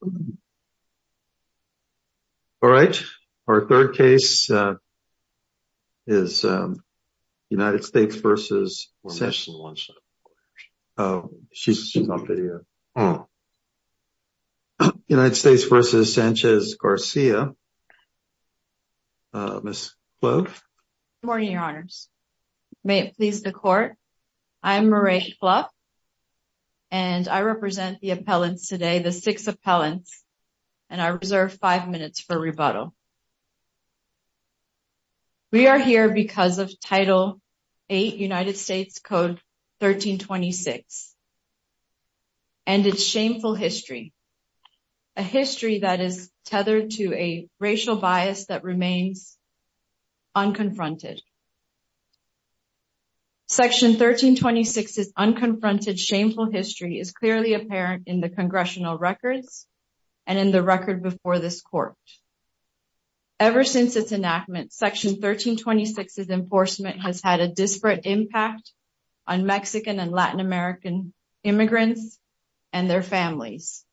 All right, our third case is United States v. Sanchez-Garcia, Ms. Fluff. Good morning, your honors. May it please the court, I'm Maree Fluff, and I represent the appellants today, the six appellants, and I reserve five minutes for rebuttal. We are here because of Title VIII United States Code 1326 and its shameful history, a history that is tethered to a racial bias that remains unconfronted. Section 1326's unconfronted shameful history is clearly apparent in the congressional records and in the record before this court. Ever since its enactment, Section 1326's enforcement has had a disparate impact on Mexican and Latin American immigrants and their families.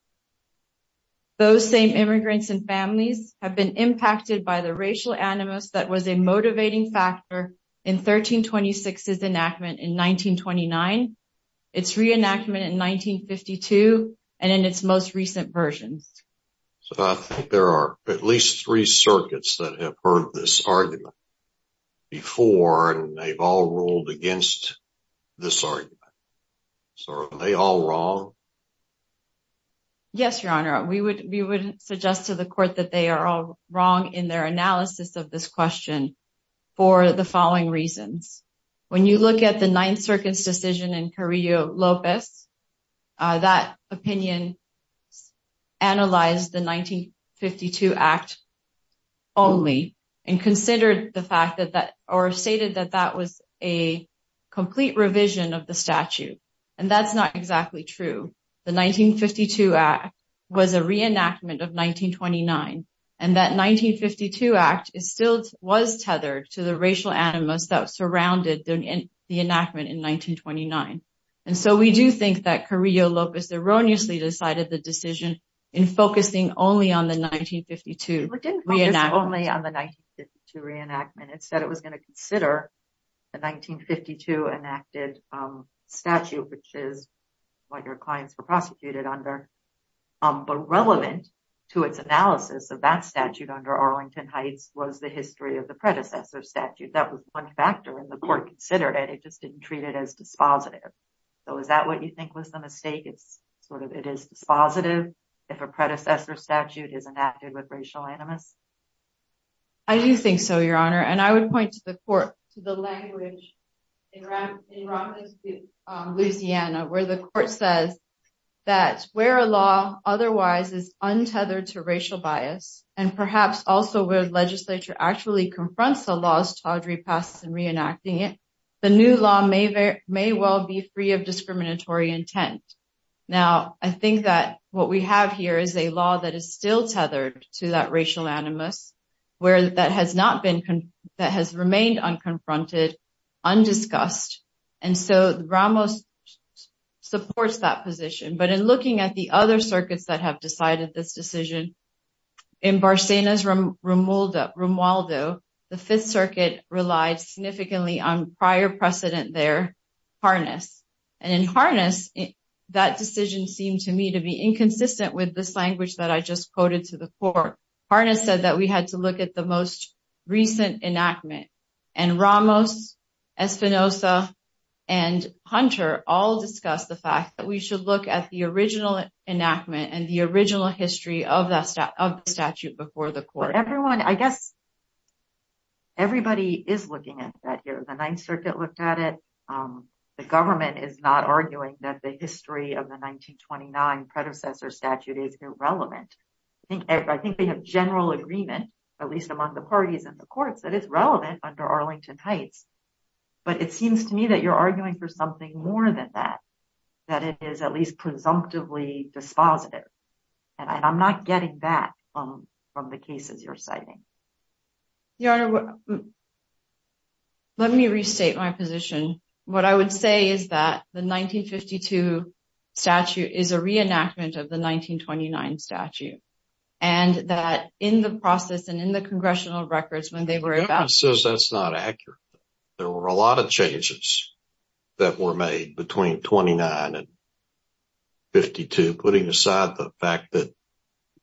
Those same immigrants and families have been impacted by the racial animus that was a motivating factor in 1326's enactment in 1929, its reenactment in 1952, and in its most recent versions. So I think there are at least three circuits that have heard this argument before, and they've all ruled against this argument. So are they all wrong? Yes, your honor. We would suggest to the court that they are all wrong in their analysis of this question for the following reasons. When you look at the Ninth Circuit's decision in Carrillo-Lopez, that opinion analyzed the 1952 Act only and stated that that was a complete revision of the statute, and that's not exactly true. The 1952 Act was a reenactment of 1929, and that 1952 Act still was tethered to the racial animus that surrounded the enactment in 1929. And so we do think that Carrillo-Lopez erroneously decided the decision in focusing only on the 1952 reenactment. It said it was going to consider the 1952 enacted statute, which is what your clients were prosecuted under, but relevant to its analysis of that statute under Arlington Heights was the history of the predecessor statute. And the court considered it, it just didn't treat it as dispositive. So is that what you think was the mistake? It is dispositive if a predecessor statute is enacted with racial animus? I do think so, Your Honor, and I would point to the court, to the language in Romney's case, Louisiana, where the court says that where a law otherwise is untethered to racial bias, and perhaps also where the legislature actually confronts the laws Todd repassed and reenacting it, the new law may well be free of discriminatory intent. Now, I think that what we have here is a law that is still tethered to that racial animus, where that has remained unconfronted, undiscussed. And so Ramos supports that position. But in looking at the other circuits that have decided this decision, in Barsena's Romualdo, the Fifth Circuit relied significantly on prior precedent there, Harness. And in Harness, that decision seemed to me to be inconsistent with this language that I just quoted to the court. Harness said that we had to look at the most recent enactment. And Ramos, Espinosa, and Hunter all discussed the fact that we should look at the original enactment and the original history of the statute before the court. But everyone, I guess, everybody is looking at that here. The Ninth Circuit looked at it. The government is not arguing that the history of the 1929 predecessor statute is irrelevant. I think they have general agreement, at least among the parties and the courts, that it's relevant under Arlington Heights. But it seems to me that you're arguing for something more than that, that it is at least presumptively dispositive. And I'm not getting that from the cases you're citing. Your Honor, let me restate my position. What I would say is that the 1952 statute is a reenactment of the 1929 statute. And that in the process and in the congressional records, when they were about— —that were made between 29 and 52, putting aside the fact that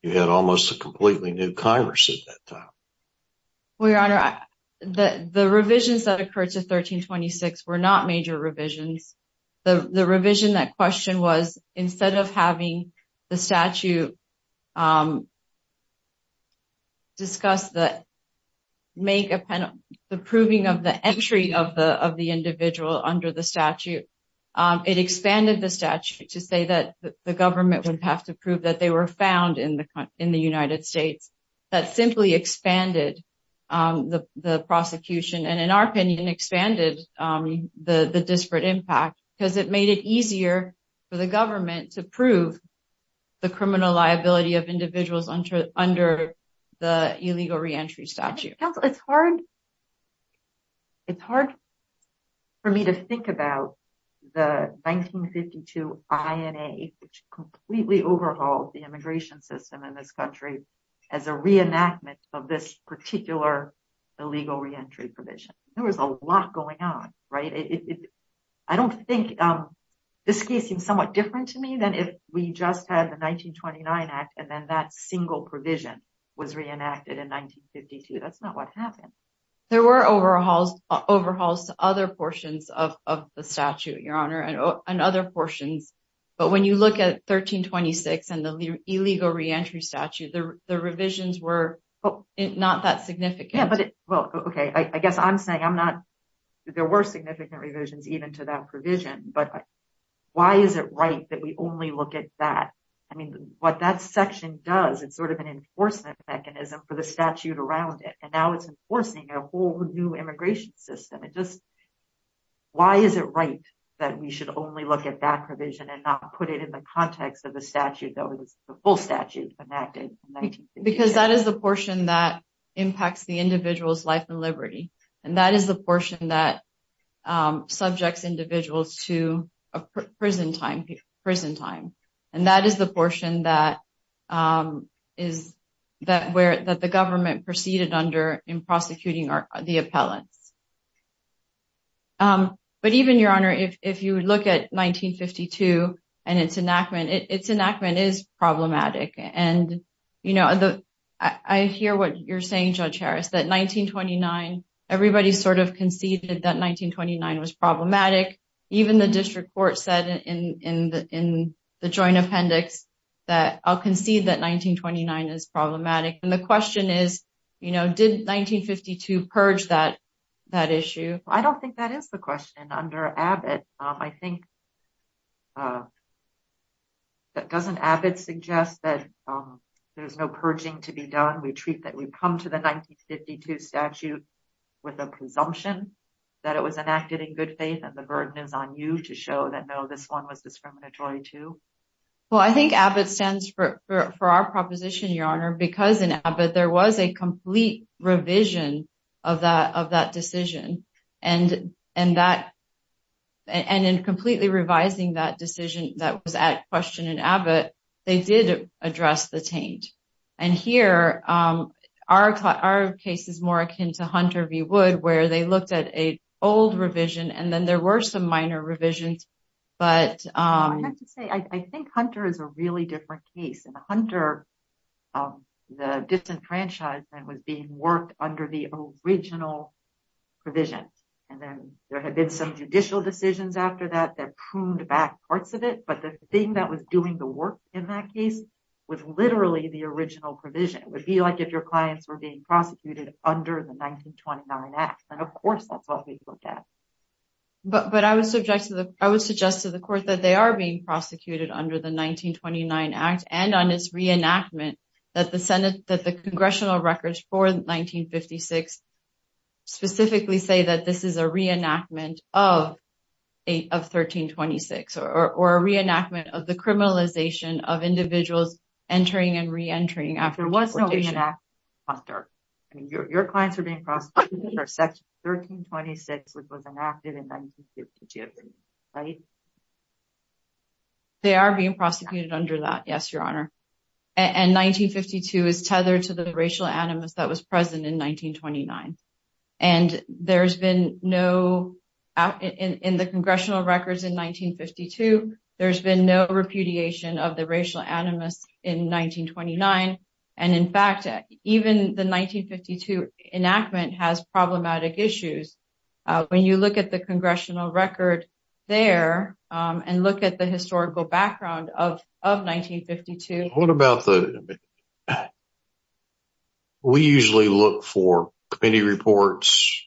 you had almost a completely new Congress at that time. Well, Your Honor, the revisions that occurred to 1326 were not major revisions. The revision that questioned was, instead of having the statute discuss the—make a—the proving of the entry of the individual under the statute, it expanded the statute to say that the government would have to prove that they were found in the United States. That simply expanded the prosecution and, in our opinion, expanded the disparate impact because it made it easier for the government to prove the criminal liability of individuals under the illegal reentry statute. Counsel, it's hard—it's hard for me to think about the 1952 INA, which completely overhauled the immigration system in this country, as a reenactment of this particular illegal reentry provision. There was a lot going on, right? I don't think—this case seems somewhat different to me than if we just had the 1929 Act and then that single provision was reenacted in 1952. That's not what happened. There were overhauls—overhauls to other portions of the statute, Your Honor, and other portions. But when you look at 1326 and the illegal reentry statute, the revisions were not that significant. Yeah, but—well, okay, I guess I'm saying I'm not—there were significant revisions even to that provision, but why is it right that we only look at that? I mean, what that section does, it's sort of an enforcement mechanism for the statute around it, and now it's enforcing a whole new immigration system. It just—why is it right that we should only look at that provision and not put it in the context of the statute that was—the full statute enacted in 1968? Because that is the portion that impacts the individual's life and liberty, and that is the portion that subjects individuals to a prison time. And that is the portion that is—that the government proceeded under in prosecuting the appellants. But even, Your Honor, if you look at 1952 and its enactment, its enactment is problematic. And, you know, I hear what you're saying, Judge Harris, that 1929—everybody sort of conceded that 1929 was problematic. Even the district court said in the joint appendix that, I'll concede that 1929 is problematic. And the question is, you know, did 1952 purge that issue? I don't think that is the question. Under Abbott, I think—doesn't Abbott suggest that there's no purging to be done? We treat that—we come to the 1952 statute with a presumption that it was enacted in good faith, and the burden is on you to show that, no, this one was discriminatory, too? Well, I think Abbott stands for our proposition, Your Honor, because in Abbott, there was a complete revision of that decision. And in completely revising that decision that was at question in Abbott, they did address the taint. And here, our case is more akin to Hunter v. Wood, where they looked at an old revision, and then there were some minor revisions, but— I have to say, I think Hunter is a really different case. In Hunter, the disenfranchisement was being worked under the original provision. And then there had been some judicial decisions after that that pruned back parts of it, but the thing that was doing the work in that case was literally the original provision. It would be like if your clients were being prosecuted under the 1929 Act, and of course that's what we looked at. But I would suggest to the court that they are being prosecuted under the 1929 Act, and on its reenactment, that the congressional records for 1956 specifically say that this is a reenactment of 1326, or a reenactment of the criminalization of individuals entering and reentering after deportation. Your clients are being prosecuted under Section 1326, which was enacted in 1952, right? Even the 1952 enactment has problematic issues. When you look at the congressional record there, and look at the historical background of 1952— What about the—we usually look for committee reports,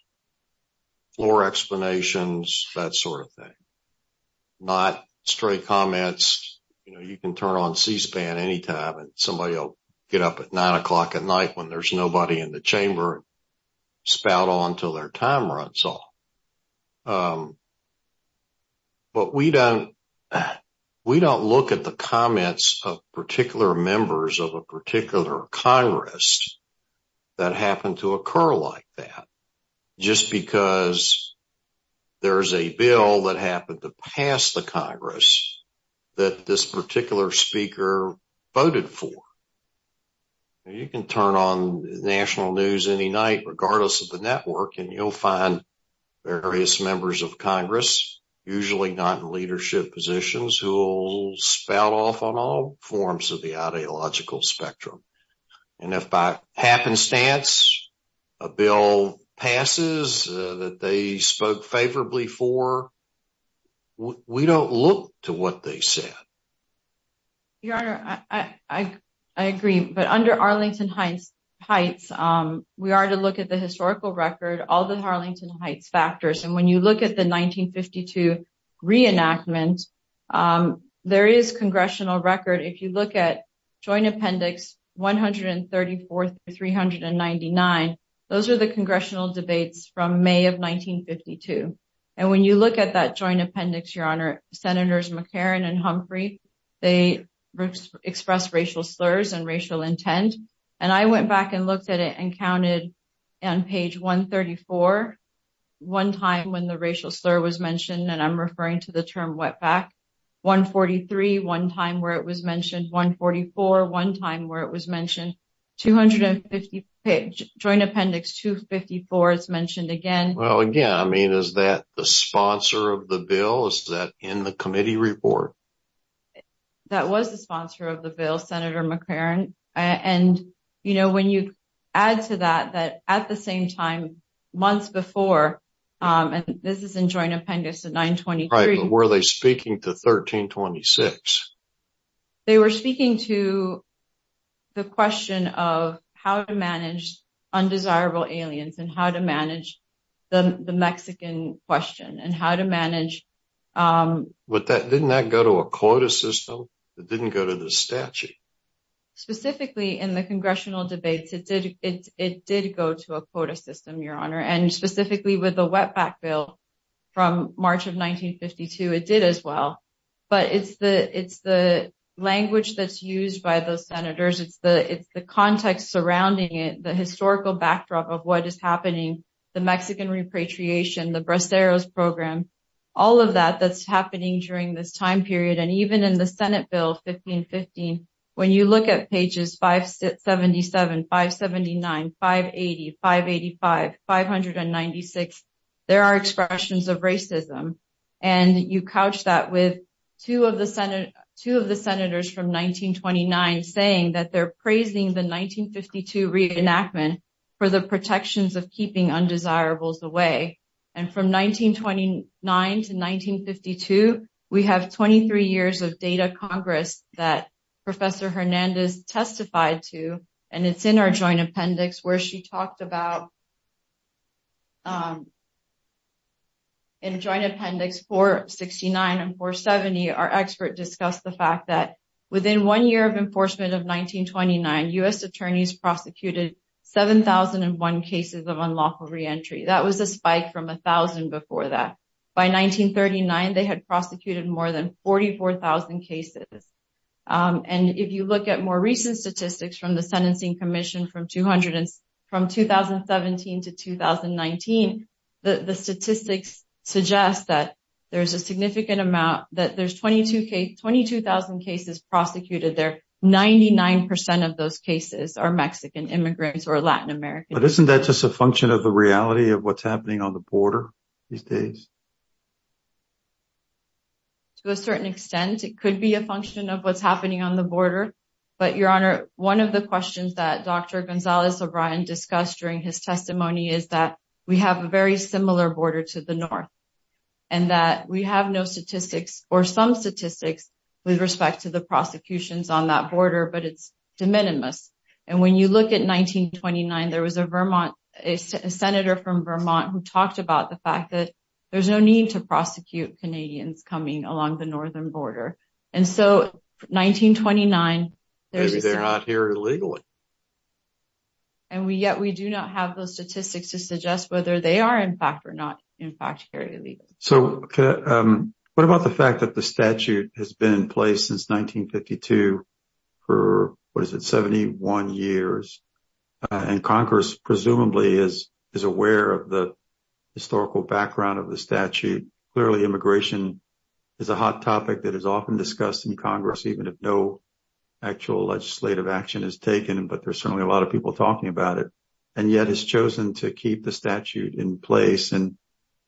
floor explanations, that sort of thing. Not straight comments, you know, you can turn on C-SPAN anytime and somebody will get up at 9 o'clock at night when there's nobody in the chamber and spout on until their time runs off. But we don't look at the comments of particular members of a particular Congress that happened to occur like that, just because there's a bill that happened to pass the Congress that this particular speaker voted for. You can turn on National News any night, regardless of the network, and you'll find various members of Congress, usually not in leadership positions, who will spout off on all forms of the ideological spectrum. And if by happenstance, a bill passes that they spoke favorably for, we don't look to what they said. Your Honor, I agree. But under Arlington Heights, we are to look at the historical record, all the Arlington Heights factors. And when you look at the 1952 reenactment, there is congressional record. If you look at Joint Appendix 134 through 399, those are the congressional debates from May of 1952. And when you look at that Joint Appendix, Your Honor, Senators McCarran and Humphrey, they expressed racial slurs and racial intent. And I went back and looked at it and counted on page 134, one time when the racial slur was mentioned, and I'm referring to the term wetback. 143, one time where it was mentioned. 144, one time where it was mentioned. Joint Appendix 254 is mentioned again. Well, again, I mean, is that the sponsor of the bill? Is that in the committee report? That was the sponsor of the bill, Senator McCarran. And, you know, when you add to that, that at the same time, months before, and this is in Joint Appendix 923. Were they speaking to 1326? They were speaking to the question of how to manage undesirable aliens and how to manage the Mexican question and how to manage. But didn't that go to a quota system? It didn't go to the statute. Specifically in the congressional debates, it did go to a quota system, Your Honor, and specifically with the wetback bill from March of 1952, it did as well. But it's the language that's used by those senators. It's the context surrounding it, the historical backdrop of what is happening, the Mexican repatriation, the Braceros program, all of that that's happening during this time period. And even in the Senate bill 1515, when you look at pages 577, 579, 580, 585, 596, there are expressions of racism. And you couch that with two of the senators from 1929 saying that they're praising the 1952 reenactment for the protections of keeping undesirables away. And from 1929 to 1952, we have 23 years of data Congress that Professor Hernandez testified to. And it's in our joint appendix where she talked about, in joint appendix 469 and 470, our expert discussed the fact that within one year of enforcement of 1929, U.S. attorneys prosecuted 7,001 cases of unlawful reentry. That was a spike from 1,000 before that. By 1939, they had prosecuted more than 44,000 cases. And if you look at more recent statistics from the Sentencing Commission from 2017 to 2019, the statistics suggest that there's a significant amount, that there's 22,000 cases prosecuted there. 99% of those cases are Mexican immigrants or Latin American. But isn't that just a function of the reality of what's happening on the border these days? To a certain extent, it could be a function of what's happening on the border. But, Your Honor, one of the questions that Dr. Gonzalez-O'Brien discussed during his testimony is that we have a very similar border to the North. And that we have no statistics or some statistics with respect to the prosecutions on that border, but it's de minimis. And when you look at 1929, there was a Vermont, a senator from Vermont who talked about the fact that there's no need to prosecute Canadians coming along the northern border. And so, 1929, there's a... Maybe they're not here illegally. And yet we do not have those statistics to suggest whether they are in fact or not in fact here illegally. So what about the fact that the statute has been in place since 1952 for, what is it, 71 years? And Congress presumably is aware of the historical background of the statute. Clearly, immigration is a hot topic that is often discussed in Congress, even if no actual legislative action is taken. But there's certainly a lot of people talking about it. And yet it's chosen to keep the statute in place. And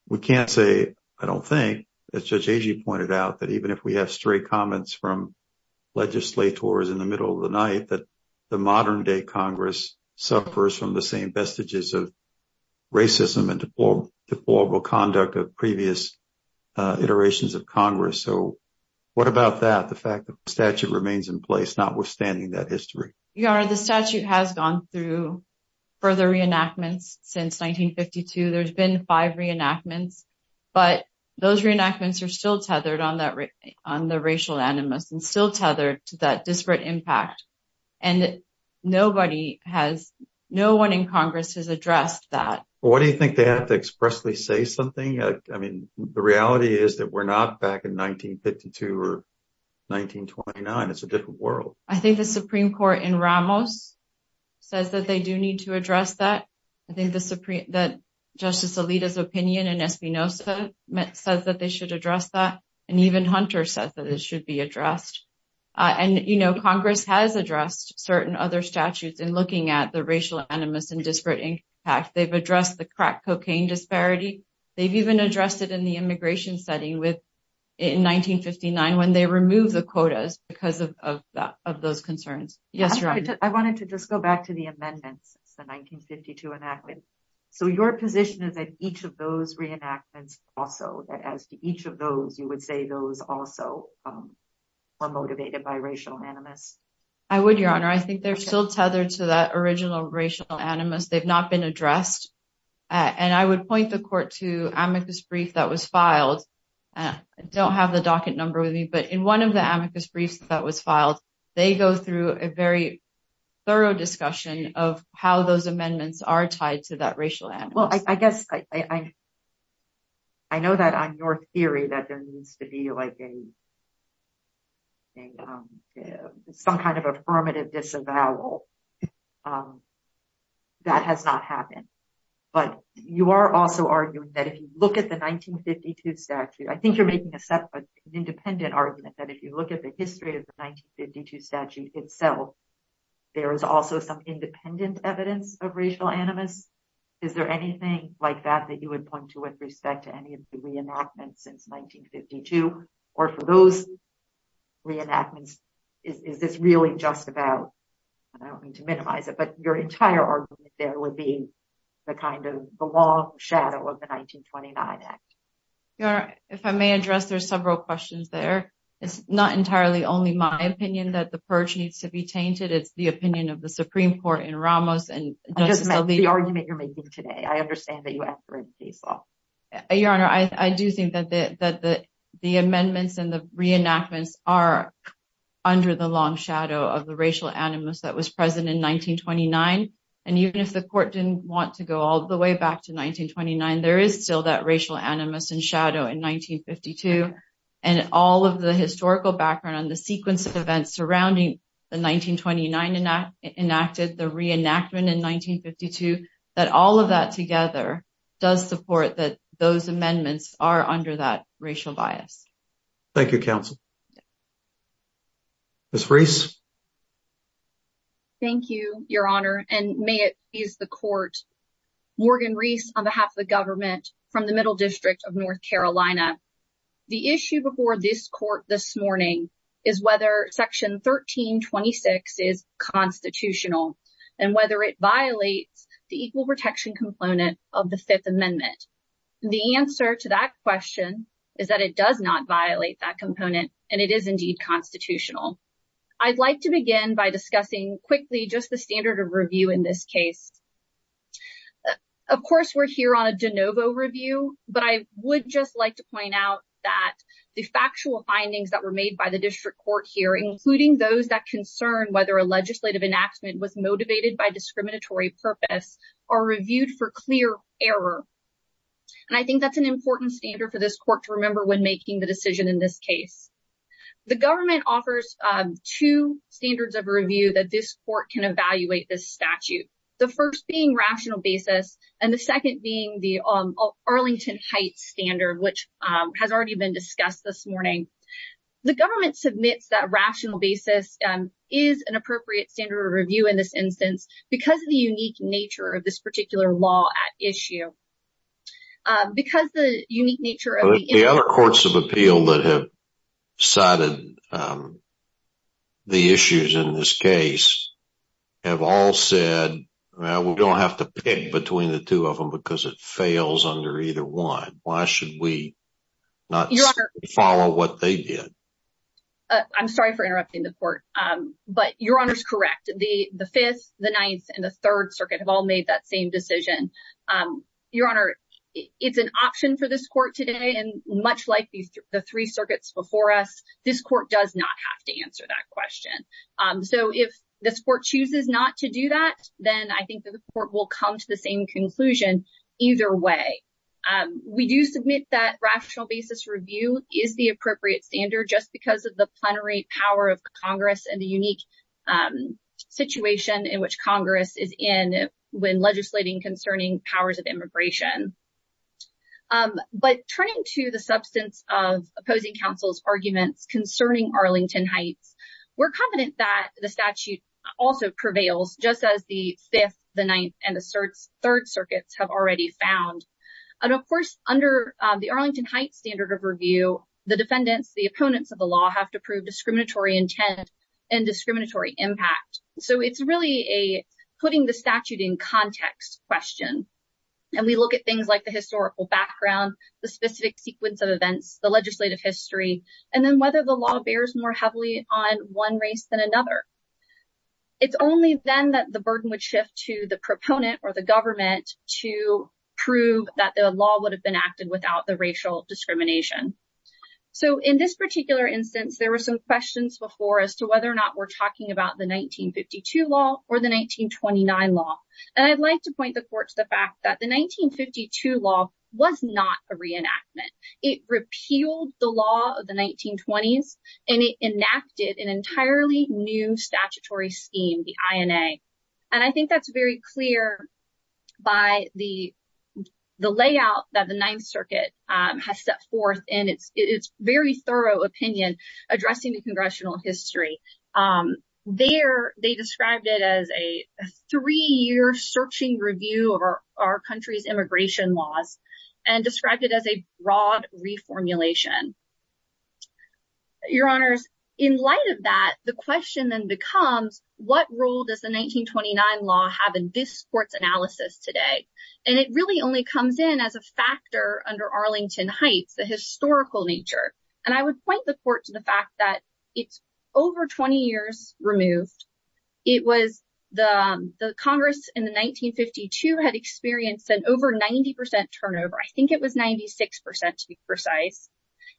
we can't say, I don't think, as Judge Agee pointed out, that even if we have straight comments from legislators in the middle of the night, that the modern-day Congress suffers from the same vestiges of racism and deplorable conduct of previous iterations of Congress. So what about that, the fact that the statute remains in place, notwithstanding that history? Your Honor, the statute has gone through further reenactments since 1952. There's been five reenactments. But those reenactments are still tethered on the racial animus and still tethered to that disparate impact. And nobody has, no one in Congress has addressed that. Well, why do you think they have to expressly say something? I mean, the reality is that we're not back in 1952 or 1929. It's a different world. I think the Supreme Court in Ramos says that they do need to address that. I think that Justice Alito's opinion in Espinoza says that they should address that. And even Hunter says that it should be addressed. And, you know, Congress has addressed certain other statutes in looking at the racial animus and disparate impact. They've addressed the crack cocaine disparity. They've even addressed it in the immigration setting in 1959 when they removed the quotas because of those concerns. I wanted to just go back to the amendments since the 1952 enactment. So your position is that each of those reenactments also, that as to each of those, you would say those also are motivated by racial animus? I would, Your Honor. I think they're still tethered to that original racial animus. They've not been addressed. And I would point the court to amicus brief that was filed. I don't have the docket number with me. But in one of the amicus briefs that was filed, they go through a very thorough discussion of how those amendments are tied to that racial animus. Well, I guess I know that on your theory that there needs to be like some kind of affirmative disavowal. That has not happened. But you are also arguing that if you look at the 1952 statute, I think you're making an independent argument that if you look at the history of the 1952 statute itself, there is also some independent evidence of racial animus. Is there anything like that that you would point to with respect to any of the reenactments since 1952? Or for those reenactments, is this really just about, I don't mean to minimize it, but your entire argument there would be the kind of the long shadow of the 1929 Act? Your Honor, if I may address, there's several questions there. It's not entirely only my opinion that the purge needs to be tainted. It's the opinion of the Supreme Court in Ramos and Justice Alito. I just meant the argument you're making today. I understand that you affirm the default. Your Honor, I do think that the amendments and the reenactments are under the long shadow of the racial animus that was present in 1929. And even if the court didn't want to go all the way back to 1929, there is still that racial animus and shadow in 1952. And all of the historical background on the sequence of events surrounding the 1929 enacted, the reenactment in 1952, that all of that together does support that those amendments are under that racial bias. Thank you, Counsel. Ms. Reese. Thank you, Your Honor, and may it please the court. Morgan Reese on behalf of the government from the Middle District of North Carolina. The issue before this court this morning is whether Section 1326 is constitutional and whether it violates the equal protection component of the Fifth Amendment. The answer to that question is that it does not violate that component and it is indeed constitutional. I'd like to begin by discussing quickly just the standard of review in this case. Of course, we're here on a de novo review, but I would just like to point out that the factual findings that were made by the district court here, including those that concern whether a legislative enactment was motivated by discriminatory purpose, are reviewed for clear error. And I think that's an important standard for this court to remember when making the decision in this case. The government offers two standards of review that this court can evaluate this statute. The first being rational basis and the second being the Arlington Heights standard, which has already been discussed this morning. The government submits that rational basis is an appropriate standard of review in this instance because of the unique nature of this particular law at issue. The other courts of appeal that have cited the issues in this case have all said, well, we don't have to pick between the two of them because it fails under either one. Why should we not follow what they did? I'm sorry for interrupting the court, but Your Honor is correct. The Fifth, the Ninth, and the Third Circuit have all made that same decision. Your Honor, it's an option for this court today. And much like the three circuits before us, this court does not have to answer that question. So if this court chooses not to do that, then I think that the court will come to the same conclusion either way. We do submit that rational basis review is the appropriate standard just because of the plenary power of Congress and the unique situation in which Congress is in. When legislating concerning powers of immigration. But turning to the substance of opposing counsel's arguments concerning Arlington Heights, we're confident that the statute also prevails just as the Fifth, the Ninth, and the Third Circuits have already found. And of course, under the Arlington Heights standard of review, the defendants, the opponents of the law, have to prove discriminatory intent and discriminatory impact. So it's really a putting the statute in context question. And we look at things like the historical background, the specific sequence of events, the legislative history, and then whether the law bears more heavily on one race than another. It's only then that the burden would shift to the proponent or the government to prove that the law would have been acted without the racial discrimination. So in this particular instance, there were some questions before as to whether or not we're talking about the 1952 law or the 1929 law. And I'd like to point the court to the fact that the 1952 law was not a reenactment. It repealed the law of the 1920s and it enacted an entirely new statutory scheme, the INA. And I think that's very clear by the layout that the Ninth Circuit has set forth in its very thorough opinion addressing the congressional history. There, they described it as a three-year searching review of our country's immigration laws and described it as a broad reformulation. Your Honors, in light of that, the question then becomes, what role does the 1929 law have in this court's analysis today? And it really only comes in as a factor under Arlington Heights, the historical nature. And I would point the court to the fact that it's over 20 years removed. It was the Congress in the 1952 had experienced an over 90 percent turnover. I think it was 96 percent, to be precise.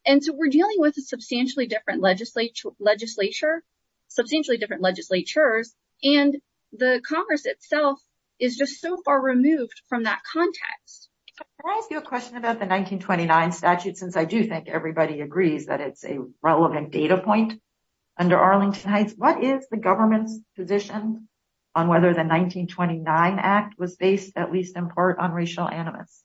And so we're dealing with a substantially different legislature, substantially different legislatures. And the Congress itself is just so far removed from that context. Can I ask you a question about the 1929 statute, since I do think everybody agrees that it's a relevant data point under Arlington Heights? What is the government's position on whether the 1929 act was based, at least in part, on racial animus?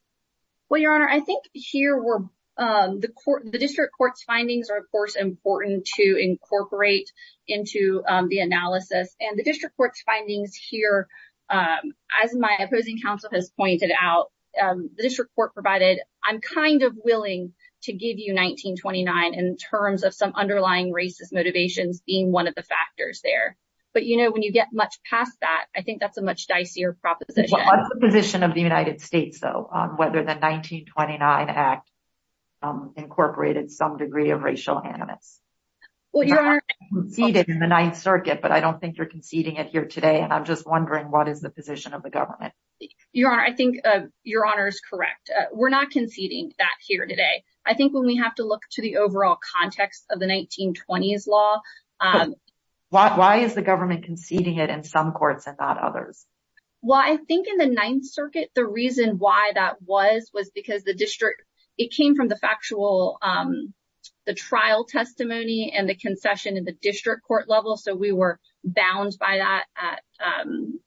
Well, Your Honor, I think here were the court, the district court's findings are, of course, important to incorporate into the analysis and the district court's findings here. As my opposing counsel has pointed out, the district court provided, I'm kind of willing to give you 1929 in terms of some underlying racist motivations being one of the factors there. But, you know, when you get much past that, I think that's a much dicier proposition. What's the position of the United States, though, on whether the 1929 act incorporated some degree of racial animus? You conceded in the Ninth Circuit, but I don't think you're conceding it here today. And I'm just wondering, what is the position of the government? Your Honor, I think Your Honor is correct. We're not conceding that here today. I think when we have to look to the overall context of the 1920s law. Why is the government conceding it in some courts and not others? Well, I think in the Ninth Circuit, the reason why that was was because the district, it came from the factual, the trial testimony and the concession in the district court level. So we were bound by that at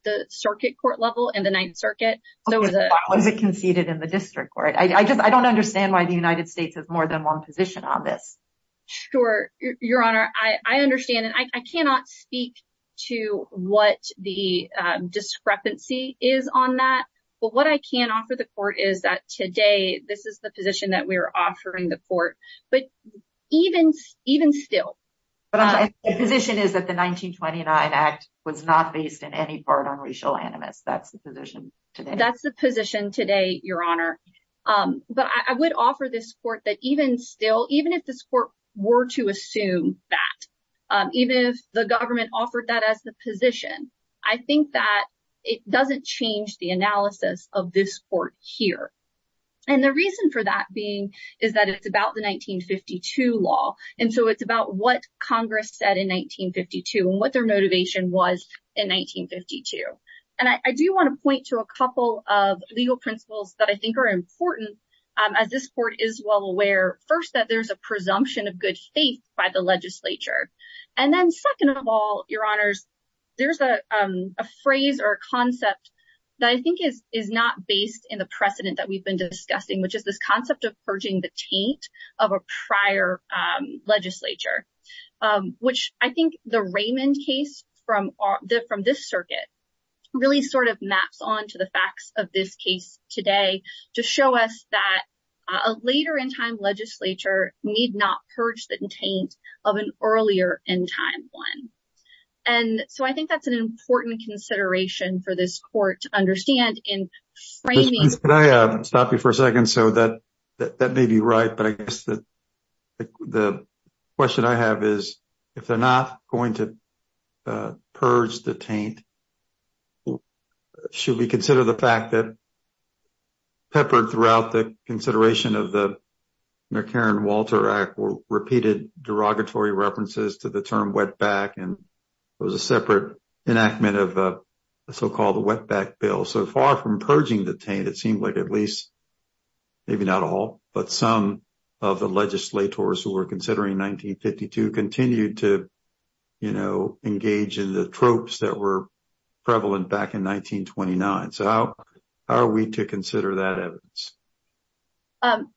the circuit court level in the Ninth Circuit. Was it conceded in the district court? I just I don't understand why the United States has more than one position on this. Sure. Your Honor, I understand. And I cannot speak to what the discrepancy is on that. But what I can offer the court is that today this is the position that we are offering the court. But even even still, the position is that the 1929 act was not based in any part on racial animus. That's the position. That's the position today, Your Honor. But I would offer this court that even still, even if this court were to assume that even if the government offered that as the position, I think that it doesn't change the analysis of this court here. And the reason for that being is that it's about the 1952 law. And so it's about what Congress said in 1952 and what their motivation was in 1952. And I do want to point to a couple of legal principles that I think are important. As this court is well aware, first, that there's a presumption of good faith by the legislature. And then second of all, Your Honors, there's a phrase or concept that I think is is not based in the precedent that we've been discussing, which is this concept of purging the taint of a prior legislature, which I think the Raymond case from the from this circuit really sort of maps on to the facts of this case today to show us that a later in time. Legislature need not purge the taint of an earlier in time one. And so I think that's an important consideration for this court to understand in framing. Can I stop you for a second so that that may be right, but I guess that the question I have is, if they're not going to purge the taint. Should we consider the fact that. Peppered throughout the consideration of the Karen Walter Act, repeated derogatory references to the term went back and it was a separate enactment of a so-called wetback bill. So far from purging the taint, it seemed like at least maybe not all, but some of the legislators who were considering 1952 continued to engage in the tropes that were prevalent back in 1929. So how are we to consider that?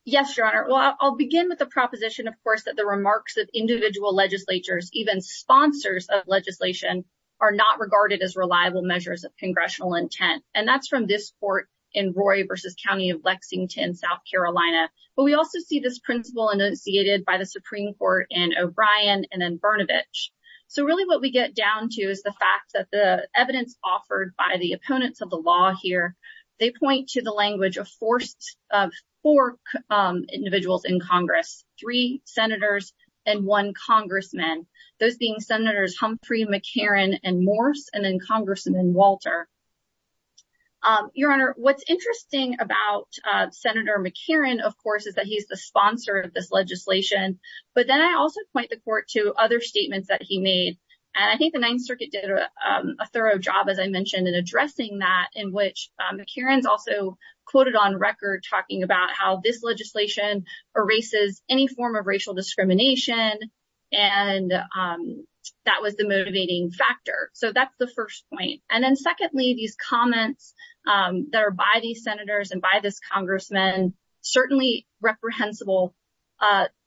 Yes, Your Honor. Well, I'll begin with the proposition, of course, that the remarks of individual legislatures, even sponsors of legislation, are not regarded as reliable measures of congressional intent. And that's from this court in Roy versus County of Lexington, South Carolina. But we also see this principle initiated by the Supreme Court and O'Brien and then Brnovich. So really what we get down to is the fact that the evidence offered by the opponents of the law here, they point to the language of forced four individuals in Congress, three senators and one congressman, those being Senators Humphrey, McCarran and Morse and then Congressman Walter. Your Honor, what's interesting about Senator McCarran, of course, is that he's the sponsor of this legislation. But then I also point the court to other statements that he made. And I think the Ninth Circuit did a thorough job, as I mentioned, in addressing that in which McCarran's also quoted on record talking about how this legislation erases any form of racial discrimination. And that was the motivating factor. So that's the first point. And then secondly, these comments that are by these senators and by this congressman, certainly reprehensible.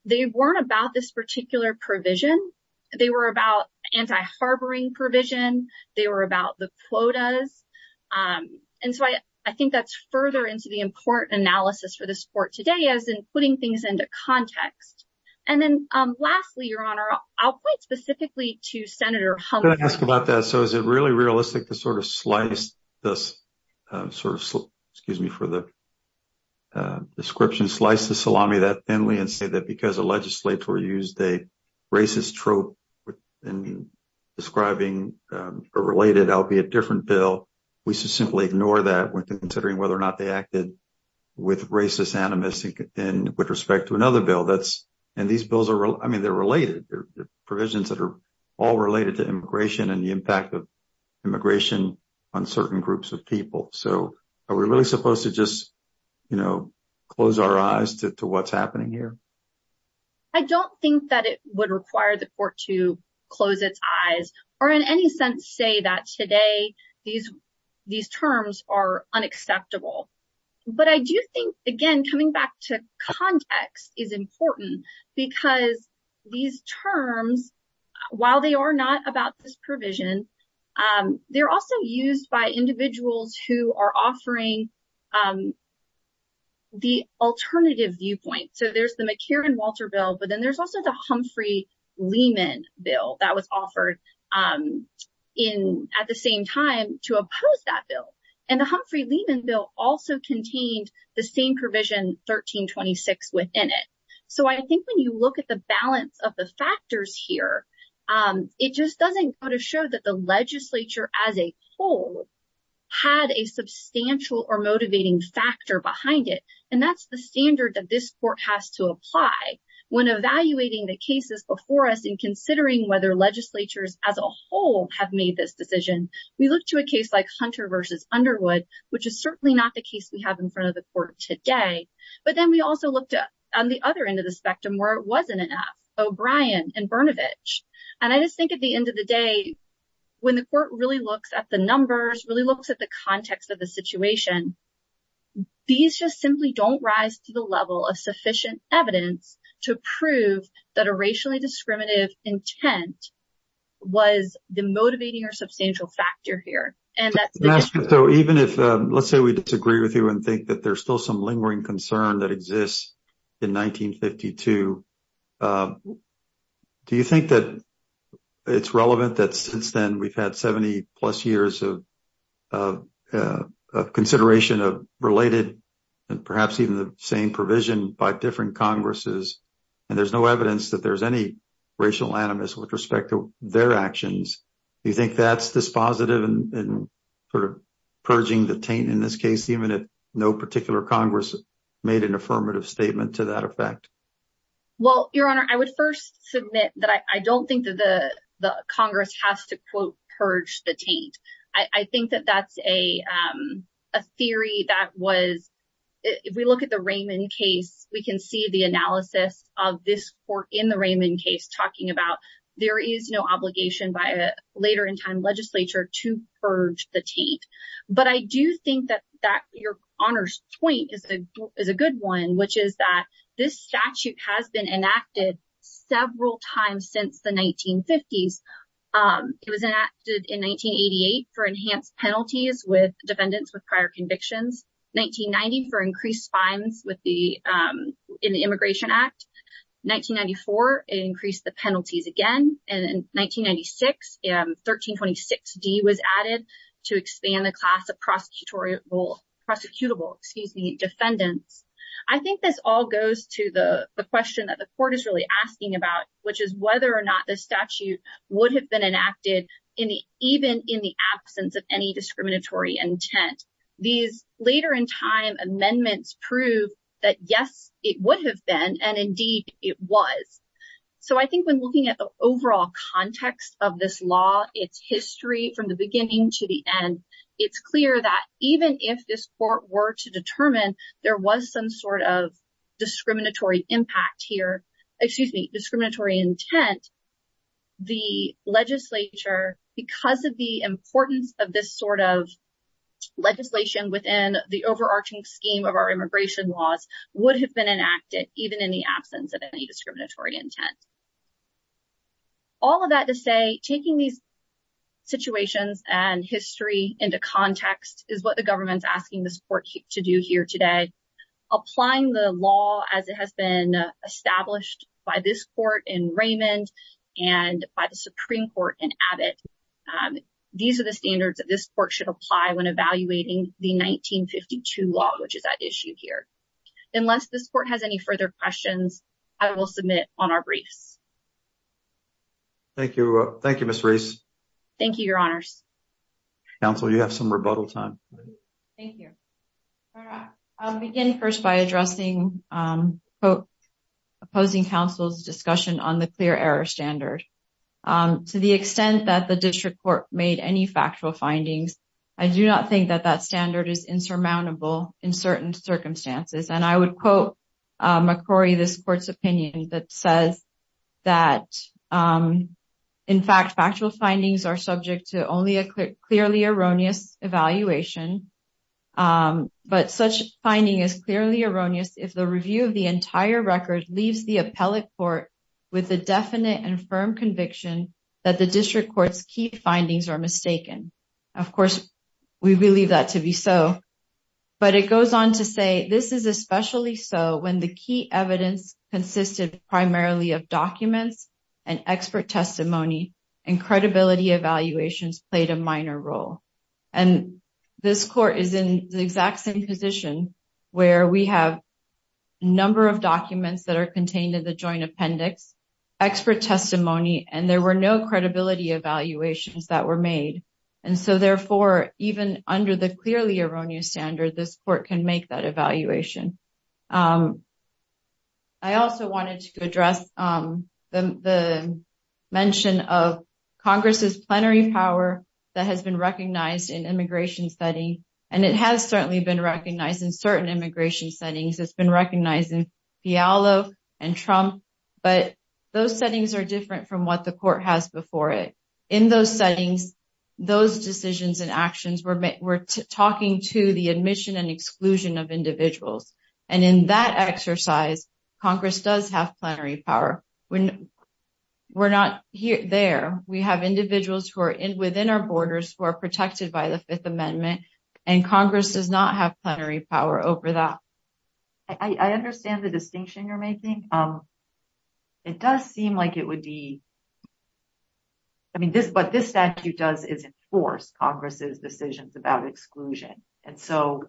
They weren't about this particular provision. They were about anti harboring provision. They were about the quotas. And so I think that's further into the important analysis for the sport today as in putting things into context. And then lastly, Your Honor, I'll point specifically to Senator Humphrey. Can I ask about that? So is it really realistic to sort of slice this sort of excuse me for the description, slice the salami that thinly and say that because the legislature used a racist trope in describing a related, albeit different bill, we should simply ignore that when considering whether or not they acted with racist animus and with respect to another bill. That's and these bills are I mean, they're related provisions that are all related to immigration and the impact of immigration on certain groups of people. So are we really supposed to just, you know, close our eyes to what's happening here? I don't think that it would require the court to close its eyes or in any sense say that today these these terms are unacceptable. But I do think, again, coming back to context is important because these terms, while they are not about this provision, they're also used by individuals who are offering. The alternative viewpoint. So there's the McCarran-Walter bill, but then there's also the Humphrey-Lehman bill that was offered in at the same time to oppose that bill. And the Humphrey-Lehman bill also contained the same provision 1326 within it. So I think when you look at the balance of the factors here, it just doesn't show that the legislature as a whole had a substantial or motivating factor behind it. And that's the standard that this court has to apply when evaluating the cases before us in considering whether legislatures as a whole have made this decision. We look to a case like Hunter versus Underwood, which is certainly not the case we have in front of the court today. But then we also looked at on the other end of the spectrum where it wasn't enough. O'Brien and Brnovich. And I just think at the end of the day, when the court really looks at the numbers, really looks at the context of the situation. These just simply don't rise to the level of sufficient evidence to prove that a racially discriminative intent was the motivating or substantial factor here. So even if let's say we disagree with you and think that there's still some lingering concern that exists in 1952, do you think that it's relevant that since then we've had 70 plus years of consideration of related and perhaps even the same provision by different Congresses? And there's no evidence that there's any racial animus with respect to their actions. Do you think that's dispositive and purging the taint in this case, even if no particular Congress made an affirmative statement to that effect? Well, Your Honor, I would first submit that I don't think that the Congress has to, quote, purge the taint. I think that that's a theory that was if we look at the Raymond case, we can see the analysis of this court in the Raymond case talking about there is no obligation by a later in time legislature to purge the taint. But I do think that that, Your Honor's point is a good one, which is that this statute has been enacted several times since the 1950s. It was enacted in 1988 for enhanced penalties with defendants with prior convictions, 1990 for increased fines in the Immigration Act, 1994 it increased the penalties again, and in 1996, 1326D was added to expand the class of prosecutable defendants. I think this all goes to the question that the court is really asking about, which is whether or not the statute would have been enacted even in the absence of any discriminatory intent. These later in time amendments prove that, yes, it would have been and indeed it was. So I think when looking at the overall context of this law, its history from the beginning to the end, it's clear that even if this court were to determine there was some sort of discriminatory impact here, excuse me, discriminatory intent, the legislature, because of the importance of this sort of legislation within the overarching scheme of our immigration laws, would have been enacted even in the absence of any discriminatory intent. All of that to say, taking these situations and history into context is what the government's asking the court to do here today. Applying the law as it has been established by this court in Raymond and by the Supreme Court in Abbott, these are the standards that this court should apply when evaluating the 1952 law, which is at issue here. Unless this court has any further questions, I will submit on our briefs. Thank you. Thank you, Ms. Reese. Thank you, Your Honors. Counsel, you have some rebuttal time. Thank you. I'll begin first by addressing, quote, opposing counsel's discussion on the clear error standard. To the extent that the district court made any factual findings, I do not think that that standard is insurmountable in certain circumstances. And I would quote McCrory, this court's opinion that says that, in fact, factual findings are subject to only a clearly erroneous evaluation. But such finding is clearly erroneous if the review of the entire record leaves the appellate court with a definite and firm conviction that the district court's key findings are mistaken. Of course, we believe that to be so. But it goes on to say, this is especially so when the key evidence consisted primarily of documents and expert testimony and credibility evaluations played a minor role. And this court is in the exact same position where we have a number of documents that are contained in the joint appendix, expert testimony, and there were no credibility evaluations that were made. And so, therefore, even under the clearly erroneous standard, this court can make that evaluation. I also wanted to address the mention of Congress's plenary power that has been recognized in immigration study. And it has certainly been recognized in certain immigration settings. It's been recognized in Fialo and Trump. But those settings are different from what the court has before it. In those settings, those decisions and actions were talking to the admission and exclusion of individuals. And in that exercise, Congress does have plenary power. We're not there. We have individuals who are within our borders who are protected by the Fifth Amendment. And Congress does not have plenary power over that. I understand the distinction you're making. It does seem like it would be. I mean, this but this statute does is enforce Congress's decisions about exclusion. And so,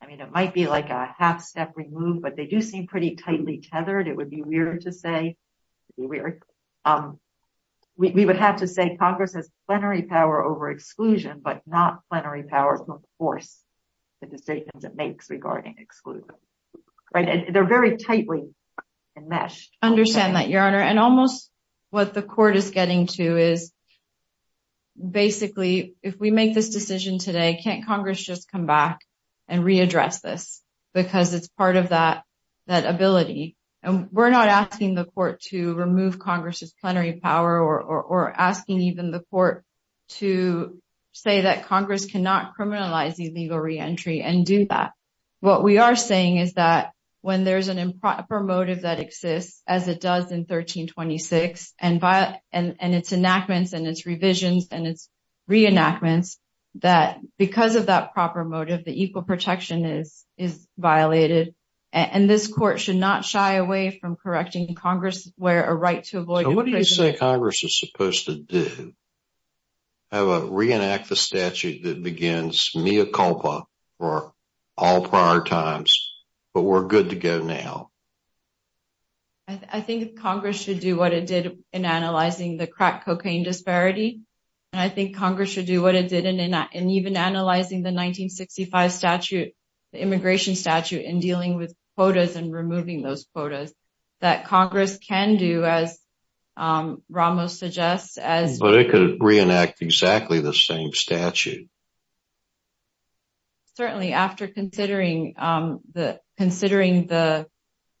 I mean, it might be like a half step removed, but they do seem pretty tightly tethered. It would be weird to say we would have to say Congress has plenary power over exclusion, but not plenary power to enforce the statements it makes regarding exclusion. They're very tightly enmeshed. I understand that, Your Honor. And almost what the court is getting to is basically, if we make this decision today, can't Congress just come back and readdress this? Because it's part of that ability. And we're not asking the court to remove Congress's plenary power or asking even the court to say that Congress cannot criminalize illegal reentry and do that. What we are saying is that when there's an improper motive that exists, as it does in 1326 and its enactments and its revisions and its reenactments, that because of that proper motive, the equal protection is violated. And this court should not shy away from correcting Congress where a right to avoid imprisonment. So what do you say Congress is supposed to do? I would reenact the statute that begins mea culpa for all prior times. But we're good to go now. I think Congress should do what it did in analyzing the crack cocaine disparity. And I think Congress should do what it did in even analyzing the 1965 statute, the immigration statute, and dealing with quotas and removing those quotas that Congress can do, as Ramos suggests. But it could reenact exactly the same statute. Certainly, after considering the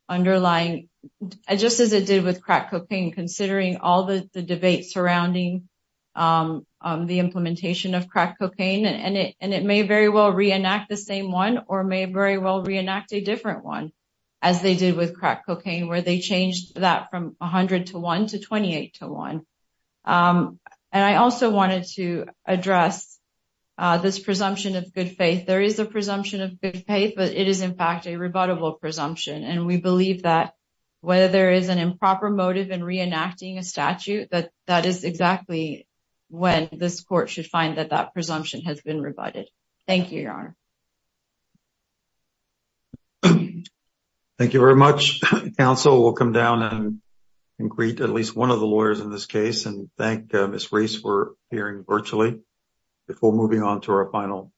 underlying, just as it did with crack cocaine, considering all the debate surrounding the implementation of crack cocaine, and it may very well reenact the same one or may very well reenact a different one, as they did with crack cocaine, where they changed that from 100 to 1 to 28 to 1. And I also wanted to address this presumption of good faith. There is a presumption of good faith, but it is, in fact, a rebuttable presumption. And we believe that whether there is an improper motive in reenacting a statute, that that is exactly when this court should find that that presumption has been rebutted. Thank you, Your Honor. Thank you very much, counsel. We'll come down and greet at least one of the lawyers in this case and thank Ms. Reese for appearing virtually before moving on to our final case.